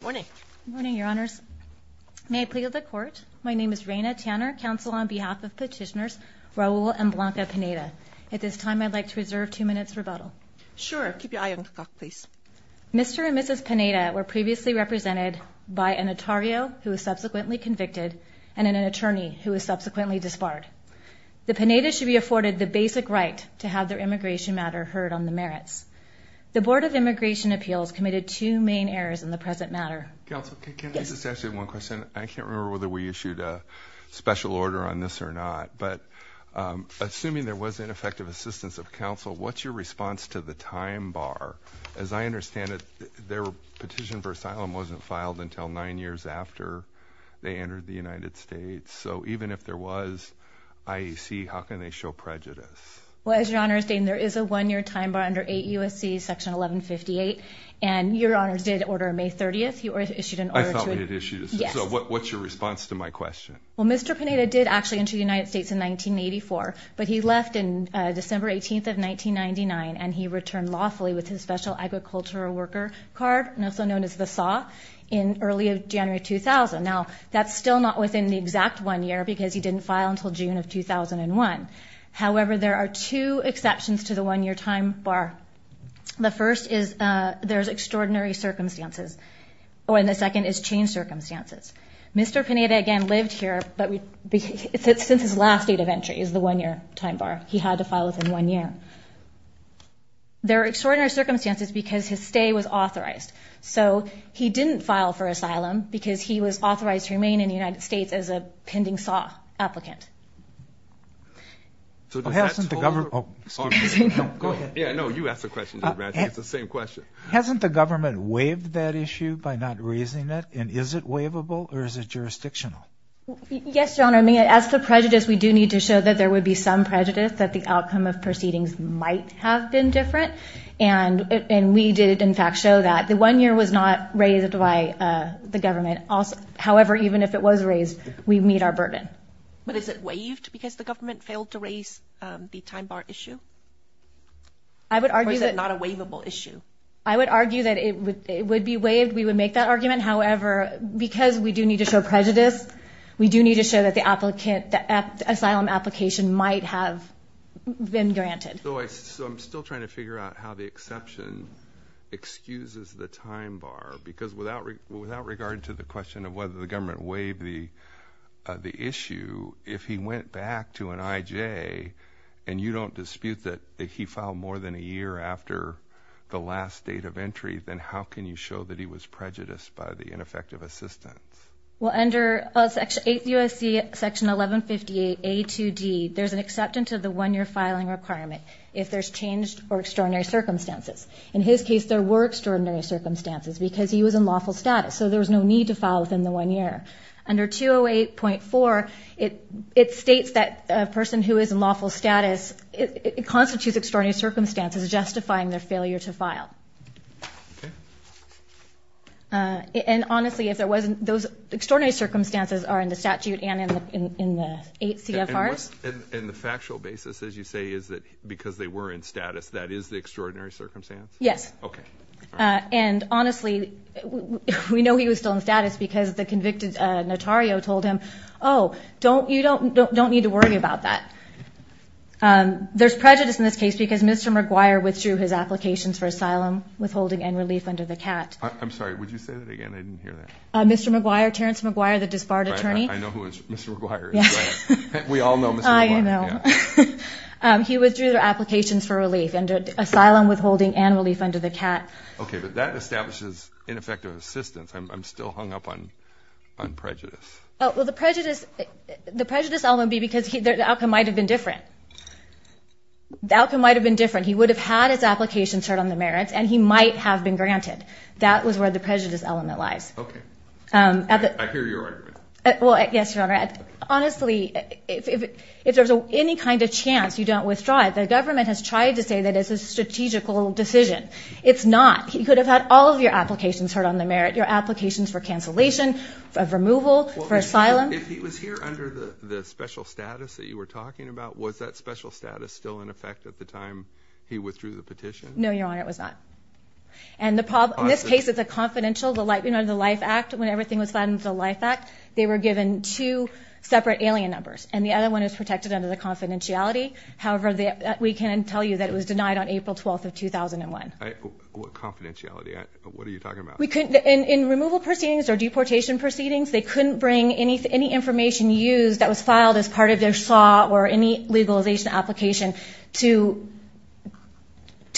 Good morning. Good morning, Your Honours. May I plea to the Court? My name is Raina Tanner, counsel on behalf of Petitioners Raul and Blanca Pineda. At this time, I'd like to reserve two minutes' rebuttal. Sure. Keep your eye on the clock, please. Mr. and Mrs. Pineda were previously represented by an attorney who was subsequently convicted and an attorney who was subsequently disbarred. The Pinedas should be afforded the basic right to have their immigration matter heard on the merits. The Board of Immigration Appeals committed two main errors in the present matter. Counsel, can I just ask you one question? I can't remember whether we issued a special order on this or not, but assuming there was ineffective assistance of counsel, what's your response to the time bar? As I understand it, their petition for asylum wasn't filed until nine years after they entered the United States, so even if there was IEC, how can they show prejudice? Well, as Your Honor is stating, there is a one-year time bar under 8 U.S.C. section 1158, and Your Honor did order on May 30th. I thought we had issued an order, so what's your response to my question? Well, Mr. Pineda did actually enter the United States in 1984, but he left on December 18th of 1999, and he returned lawfully with his special agricultural worker card, also known as the SAW, in early January 2000. Now, that's still not within the exact one year because he didn't file until June of 2001. However, there are two exceptions to the one-year time bar. The first is there's extraordinary circumstances, and the second is changed circumstances. Mr. Pineda, again, lived here, but since his last date of entry is the one-year time bar, he had to file within one year. There are extraordinary circumstances because his stay was authorized, so he didn't file for asylum because he was authorized to remain in the United States as a pending SAW applicant. So, doesn't the government – oh, excuse me, no, go ahead. Yeah, no, you asked the question, Judge Ratchett. It's the same question. Hasn't the government waived that issue by not raising it, and is it waivable or is it jurisdictional? Yes, Your Honor. I mean, as for prejudice, we do need to show that there would be some prejudice, that the outcome of proceedings might have been different, and we did, in fact, show that. The one-year was not raised by the government. However, even if it was raised, we meet our burden. But is it waived because the government failed to raise the time bar issue? I would argue that – Or is it not a waivable issue? I would argue that it would be waived. We would make that argument. However, because we do need to show prejudice, we do need to show that the asylum application might have been granted. So I'm still trying to figure out how the exception excuses the time bar, because without regard to the question of whether the government waived the issue, if he went back to an IJ and you don't dispute that he filed more than a year after the last date of entry, then how can you show that he was prejudiced by the ineffective assistance? Well, under 8 U.S.C. Section 1158 A2D, there's an acceptance of the one-year filing requirement if there's changed or extraordinary circumstances. In his case, there were extraordinary circumstances because he was in lawful status, so there was no need to file within the one year. Under 208.4, it states that a person who is in lawful status – it constitutes extraordinary circumstances justifying their failure to file. Okay. And honestly, if there wasn't – those extraordinary circumstances are in the statute and in the 8 CFRs. And the factual basis, as you say, is that because they were in status, that is the extraordinary circumstance? Yes. Okay. And honestly, we know he was still in status because the convicted notario told him, oh, you don't need to worry about that. There's prejudice in this case because Mr. McGuire withdrew his applications for asylum, withholding and relief under the CAT. I'm sorry. Would you say that again? I didn't hear that. Mr. McGuire. Terrence McGuire, the disbarred attorney. Right. I know who Mr. McGuire is. Right. We all know Mr. McGuire. I know. Yeah. He withdrew their applications for relief under asylum, withholding and relief under the CAT. Okay. But that establishes ineffective assistance. I'm still hung up on prejudice. Well, the prejudice, the prejudice element would be because the outcome might have been different. The outcome might have been different. He would have had his applications heard on the merits and he might have been granted. That was where the prejudice element lies. Okay. I hear your argument. Well, yes, Your Honor. Honestly, if there's any kind of chance you don't withdraw it, the government has tried to say that it's a strategical decision. It's not. He could have had all of your applications heard on the merit, your applications for relief, for asylum. Well, if he was here under the special status that you were talking about, was that special status still in effect at the time he withdrew the petition? No, Your Honor. It was not. And the problem, in this case, it's a confidential, you know, under the LIFE Act, when everything was signed under the LIFE Act, they were given two separate alien numbers and the other one is protected under the confidentiality. However, we can tell you that it was denied on April 12th of 2001. What confidentiality? What are you talking about? In removal proceedings or deportation proceedings, they couldn't bring any information used that was filed as part of their SAW or any legalization application to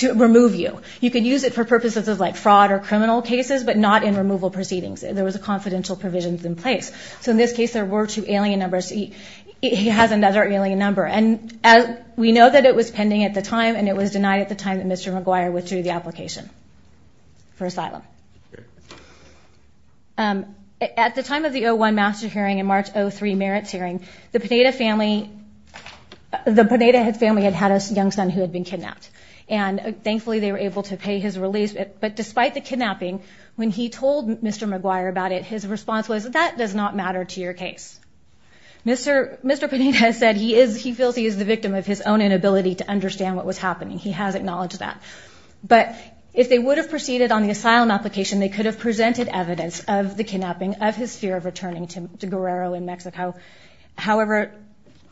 remove you. You could use it for purposes of, like, fraud or criminal cases, but not in removal proceedings. There was a confidential provision in place. So in this case, there were two alien numbers. He has another alien number. And we know that it was pending at the time and it was denied at the time that Mr. McGuire withdrew the application for asylum. At the time of the 01 Master Hearing and March 03 Merits Hearing, the Pineda family had had a young son who had been kidnapped. And thankfully, they were able to pay his release. But despite the kidnapping, when he told Mr. McGuire about it, his response was, that does not matter to your case. Mr. Pineda said he feels he is the victim of his own inability to understand what was happening. He has acknowledged that. But if they would have proceeded on the asylum application, they could have presented evidence of the kidnapping, of his fear of returning to Guerrero in Mexico, however,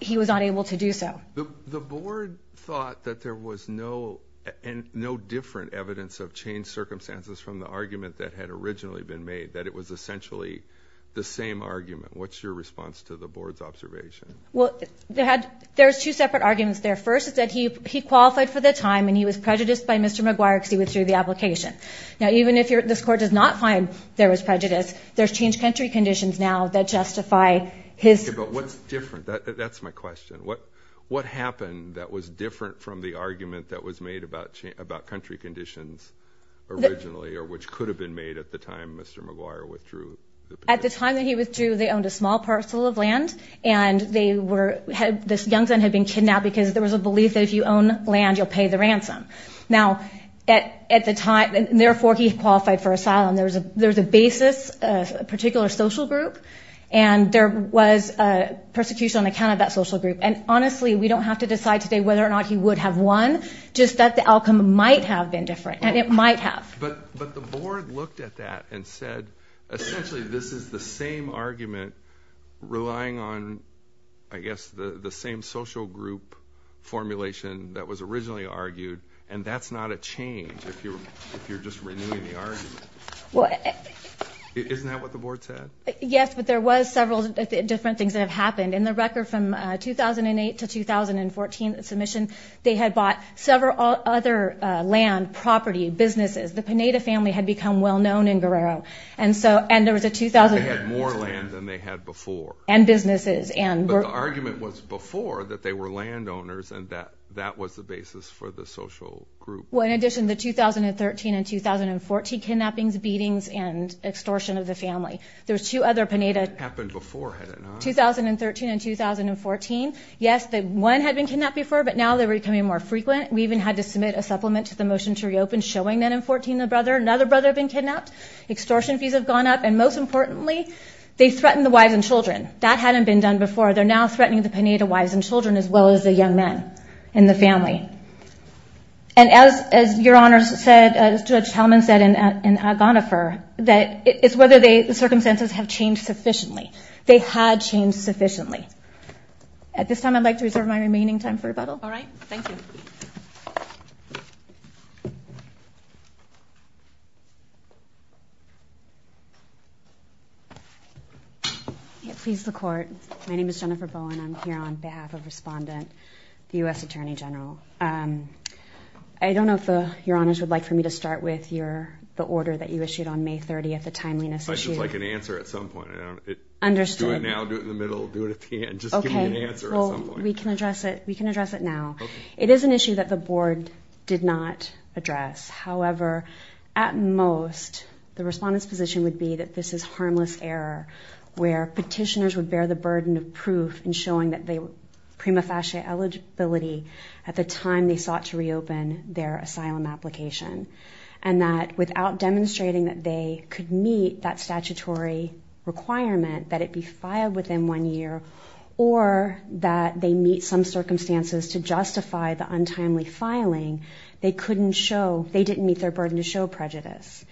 he was not able to do so. The board thought that there was no different evidence of changed circumstances from the argument that had originally been made, that it was essentially the same argument. What's your response to the board's observation? Well, there's two separate arguments there. First, is that he qualified for the time and he was prejudiced by Mr. McGuire because he withdrew the application. Now, even if this court does not find there was prejudice, there's changed country conditions now that justify his... Okay, but what's different? That's my question. What happened that was different from the argument that was made about country conditions originally, or which could have been made at the time Mr. McGuire withdrew the application? At the time that he withdrew, they owned a small parcel of land and this young son had been kidnapped because there was a belief that if you own land, you'll pay the ransom. Now, at the time, therefore, he qualified for asylum. There's a basis, a particular social group, and there was persecution on account of that social group. And honestly, we don't have to decide today whether or not he would have won, just that the outcome might have been different, and it might have. But the board looked at that and said, essentially, this is the same argument relying on, I guess, the same social group formulation that was originally argued, and that's not a change if you're just renewing the argument. Isn't that what the board said? Yes, but there was several different things that have happened. In the record from 2008 to 2014 submission, they had bought several other land, property, businesses. The Pineda family had become well-known in Guerrero. And there was a 2000... They had more land than they had before. And businesses, and... But the argument was before that they were landowners and that that was the basis for the social group. Well, in addition, the 2013 and 2014 kidnappings, beatings, and extortion of the family. There's two other Pineda... It happened before, had it not? 2013 and 2014, yes, one had been kidnapped before, but now they're becoming more frequent. We even had to submit a supplement to the motion to reopen showing that in 2014, another brother had been kidnapped, extortion fees have gone up, and most importantly, they threatened the wives and children. That hadn't been done before. They're now threatening the Pineda wives and children as well as the young men in the family. And as your honors said, as Judge Hellman said in Agonifer, that it's whether the circumstances have changed sufficiently. They had changed sufficiently. At this time, I'd like to reserve my remaining time for rebuttal. All right. Thank you. Please, the court. My name is Jennifer Bowen. I'm here on behalf of Respondent, the U.S. Attorney General. I don't know if your honors would like for me to start with the order that you issued on May 30th, the timeliness issue. I should like an answer at some point. I don't know if it... Understood. Do it now, do it in the middle, do it at the end. Just give me an answer at some point. Okay. Well, we can address it. We can address it now. Okay. It is an issue that the board did not address. However, at most, the Respondent's position would be that this is harmless error, where petitioners would bear the burden of proof in showing that they were prima facie eligibility at the time they sought to reopen their asylum application. And that without demonstrating that they could meet that statutory requirement, that it be circumstances to justify the untimely filing, they couldn't show, they didn't meet their burden to show prejudice.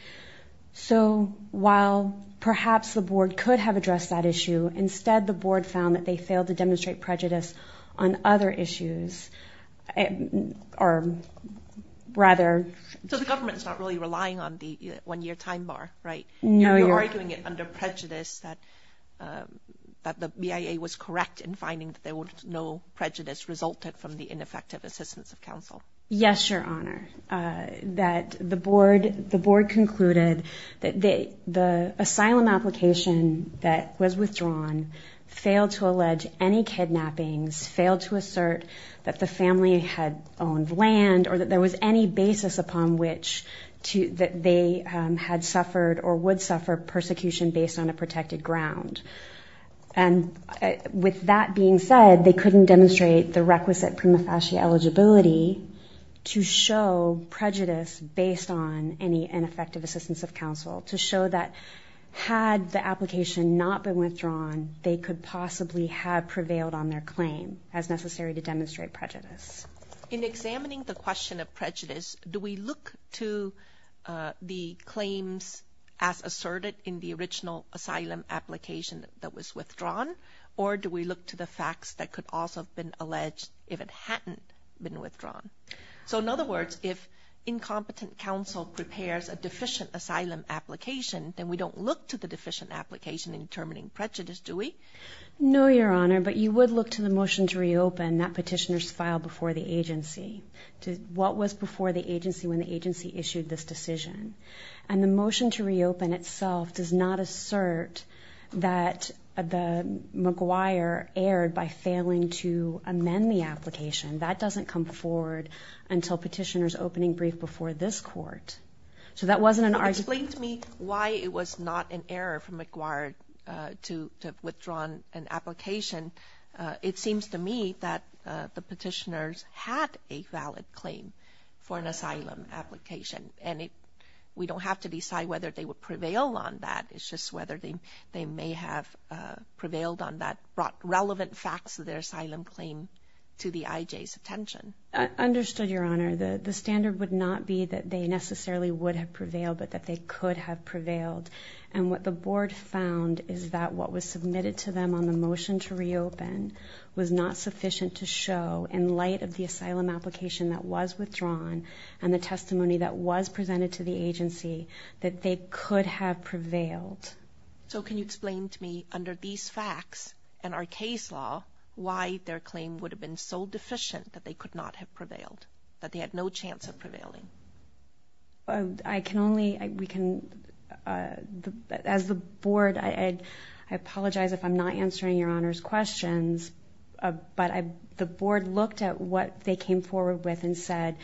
So while perhaps the board could have addressed that issue, instead the board found that they failed to demonstrate prejudice on other issues, or rather... So the government's not really relying on the one-year time bar, right? No, your... And you're arguing it under prejudice that the BIA was correct in finding that there was prejudice resulted from the ineffective assistance of counsel. Yes, your honor, that the board concluded that the asylum application that was withdrawn failed to allege any kidnappings, failed to assert that the family had owned land, or that there was any basis upon which that they had suffered or would suffer persecution based on a protected ground. And with that being said, they couldn't demonstrate the requisite prima facie eligibility to show prejudice based on any ineffective assistance of counsel, to show that had the application not been withdrawn, they could possibly have prevailed on their claim as necessary to demonstrate prejudice. In examining the question of prejudice, do we look to the claims as asserted in the original asylum application that was withdrawn, or do we look to the facts that could also have been alleged if it hadn't been withdrawn? So in other words, if incompetent counsel prepares a deficient asylum application, then we don't look to the deficient application in determining prejudice, do we? No, your honor, but you would look to the motion to reopen that petitioner's file before the agency, to what was before the agency when the agency issued this decision. And the motion to reopen itself does not assert that the McGuire erred by failing to amend the application. That doesn't come forward until petitioner's opening brief before this court. So that wasn't an argument. Explain to me why it was not an error for McGuire to have withdrawn an application. It seems to me that the petitioners had a valid claim for an asylum application, and we don't have to decide whether they would prevail on that. It's just whether they may have prevailed on that relevant facts of their asylum claim to the IJ's attention. I understood, your honor. The standard would not be that they necessarily would have prevailed, but that they could have prevailed. And what the board found is that what was submitted to them on the motion to reopen was not sufficient to show, in light of the asylum application that was withdrawn and the testimony that was presented to the agency, that they could have prevailed. So can you explain to me, under these facts and our case law, why their claim would have been so deficient that they could not have prevailed, that they had no chance of prevailing? I can only, we can, as the board, I apologize if I'm not answering your honor's questions, but the board looked at what they came forward with and said,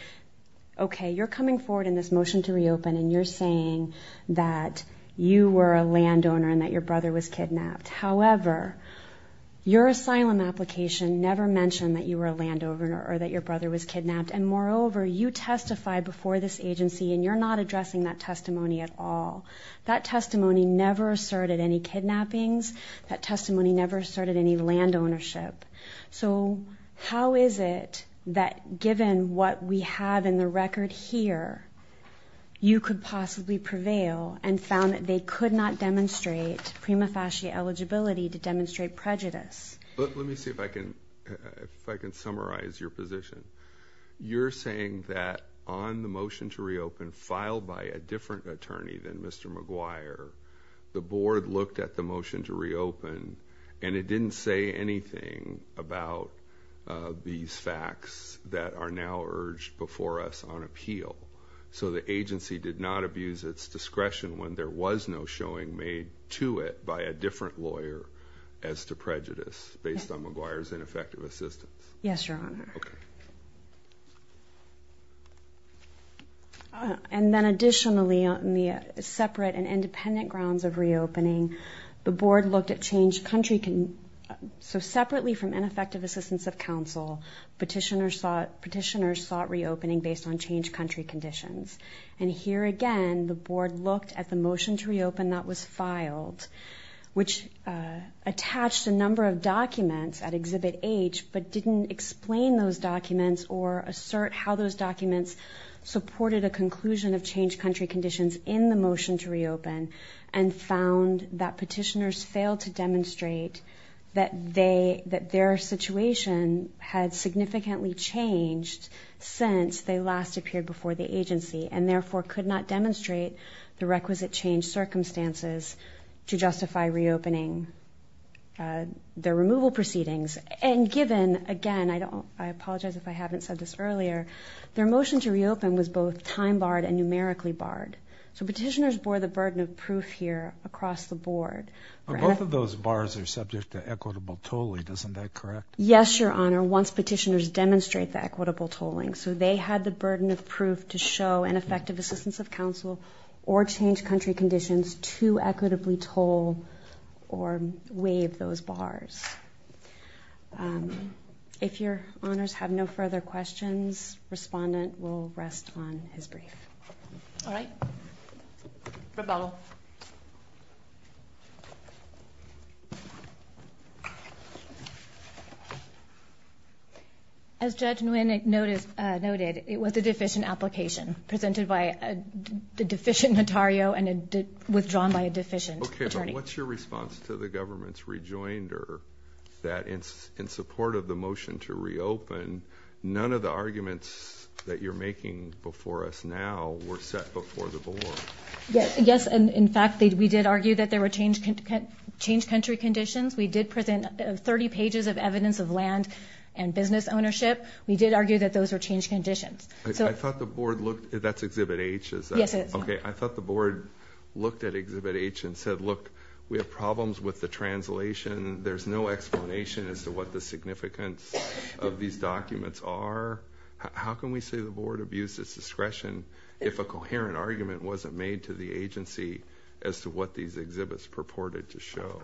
okay, you're coming forward in this motion to reopen and you're saying that you were a landowner and that your brother was kidnapped. However, your asylum application never mentioned that you were a landowner or that your brother was kidnapped. And moreover, you testified before this agency and you're not addressing that testimony at all. That testimony never asserted any kidnappings. That testimony never asserted any land ownership. So how is it that given what we have in the record here, you could possibly prevail and found that they could not demonstrate prima facie eligibility to demonstrate prejudice? Let me see if I can summarize your position. You're saying that on the motion to reopen, filed by a different attorney than Mr. McGuire, the board looked at the motion to reopen and it didn't say anything about these facts that are now urged before us on appeal. So the agency did not abuse its discretion when there was no showing made to it by a prejudice based on McGuire's ineffective assistance? Yes, Your Honor. And then additionally, on the separate and independent grounds of reopening, the board looked at changed country. So separately from ineffective assistance of counsel, petitioners sought reopening based on changed country conditions. And here again, the board looked at the motion to reopen that was filed, which attached a number of documents at Exhibit H, but didn't explain those documents or assert how those documents supported a conclusion of changed country conditions in the motion to reopen and found that petitioners failed to demonstrate that their situation had significantly changed since they last appeared before the agency and therefore could not demonstrate the requisite changed circumstances to justify reopening their removal proceedings. And given, again, I apologize if I haven't said this earlier, their motion to reopen was both time barred and numerically barred. So petitioners bore the burden of proof here across the board. But both of those bars are subject to equitable tolling, isn't that correct? Yes, Your Honor, once petitioners demonstrate the equitable tolling. So they had the burden of proof to show an effective assistance of counsel or change country conditions to equitably toll or waive those bars. If Your Honors have no further questions, Respondent will rest on his brief. All right. Rebuttal. As Judge Nguyen noted, it was a deficient application presented by a deficient notario and withdrawn by a deficient attorney. Okay, but what's your response to the government's rejoinder that in support of the motion to reopen, none of the arguments that you're making before us now were set before the board? Yes, and in fact, we did argue that there were change country conditions. We did present 30 pages of evidence of land and business ownership. We did argue that those were change conditions. I thought the board looked at Exhibit H and said, look, we have problems with the translation. There's no explanation as to what the significance of these documents are. How can we say the board abused its discretion if a coherent argument wasn't made to the agency as to what these exhibits purported to show?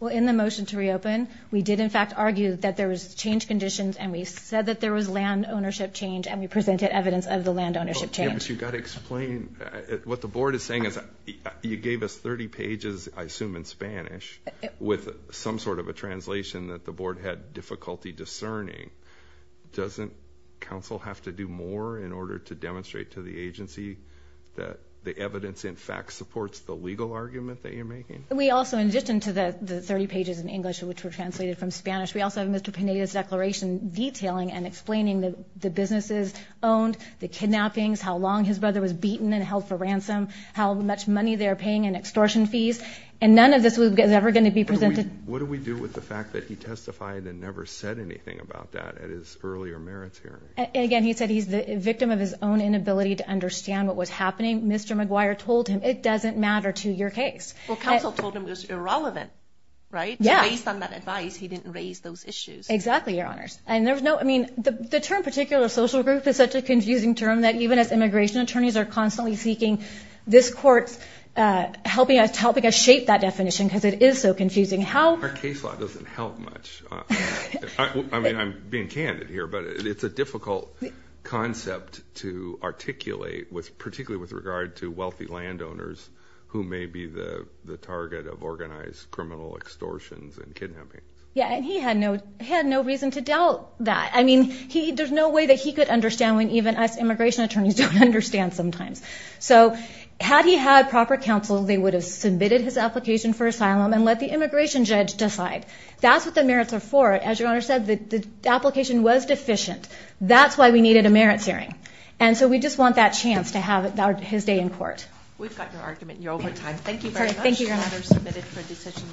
Well, in the motion to reopen, we did in fact argue that there was change conditions and we said that there was land ownership change and we presented evidence of the land ownership change. But you've got to explain. What the board is saying is you gave us 30 pages, I assume in Spanish, with some sort of a translation that the board had difficulty discerning. Doesn't counsel have to do more in order to demonstrate to the agency that the evidence in fact supports the legal argument that you're making? We also, in addition to the 30 pages in English, which were translated from Spanish, we also have Mr. Pineda's declaration detailing and explaining the businesses owned, the kidnappings, how long his brother was beaten and held for ransom, how much money they're paying in extortion fees. And none of this is ever going to be presented. What do we do with the fact that he testified and never said anything about that at his earlier merits hearing? And again, he said he's the victim of his own inability to understand what was happening. Mr. McGuire told him, it doesn't matter to your case. Well, counsel told him it was irrelevant, right? Yeah. Based on that advice, he didn't raise those issues. Exactly, Your Honors. And there was no, I mean, the term particular social group is such a confusing term that even as immigration attorneys are constantly seeking this court's helping us shape that confusing how- Our case law doesn't help much. I mean, I'm being candid here, but it's a difficult concept to articulate with particularly with regard to wealthy landowners who may be the target of organized criminal extortions and kidnapping. Yeah. And he had no reason to doubt that. I mean, there's no way that he could understand when even us immigration attorneys don't understand sometimes. So had he had proper counsel, they would have submitted his application for asylum and let the immigration judge decide. That's what the merits are for. As Your Honor said, the application was deficient. That's why we needed a merits hearing. And so we just want that chance to have his day in court. We've got your argument in your overtime. Thank you very much.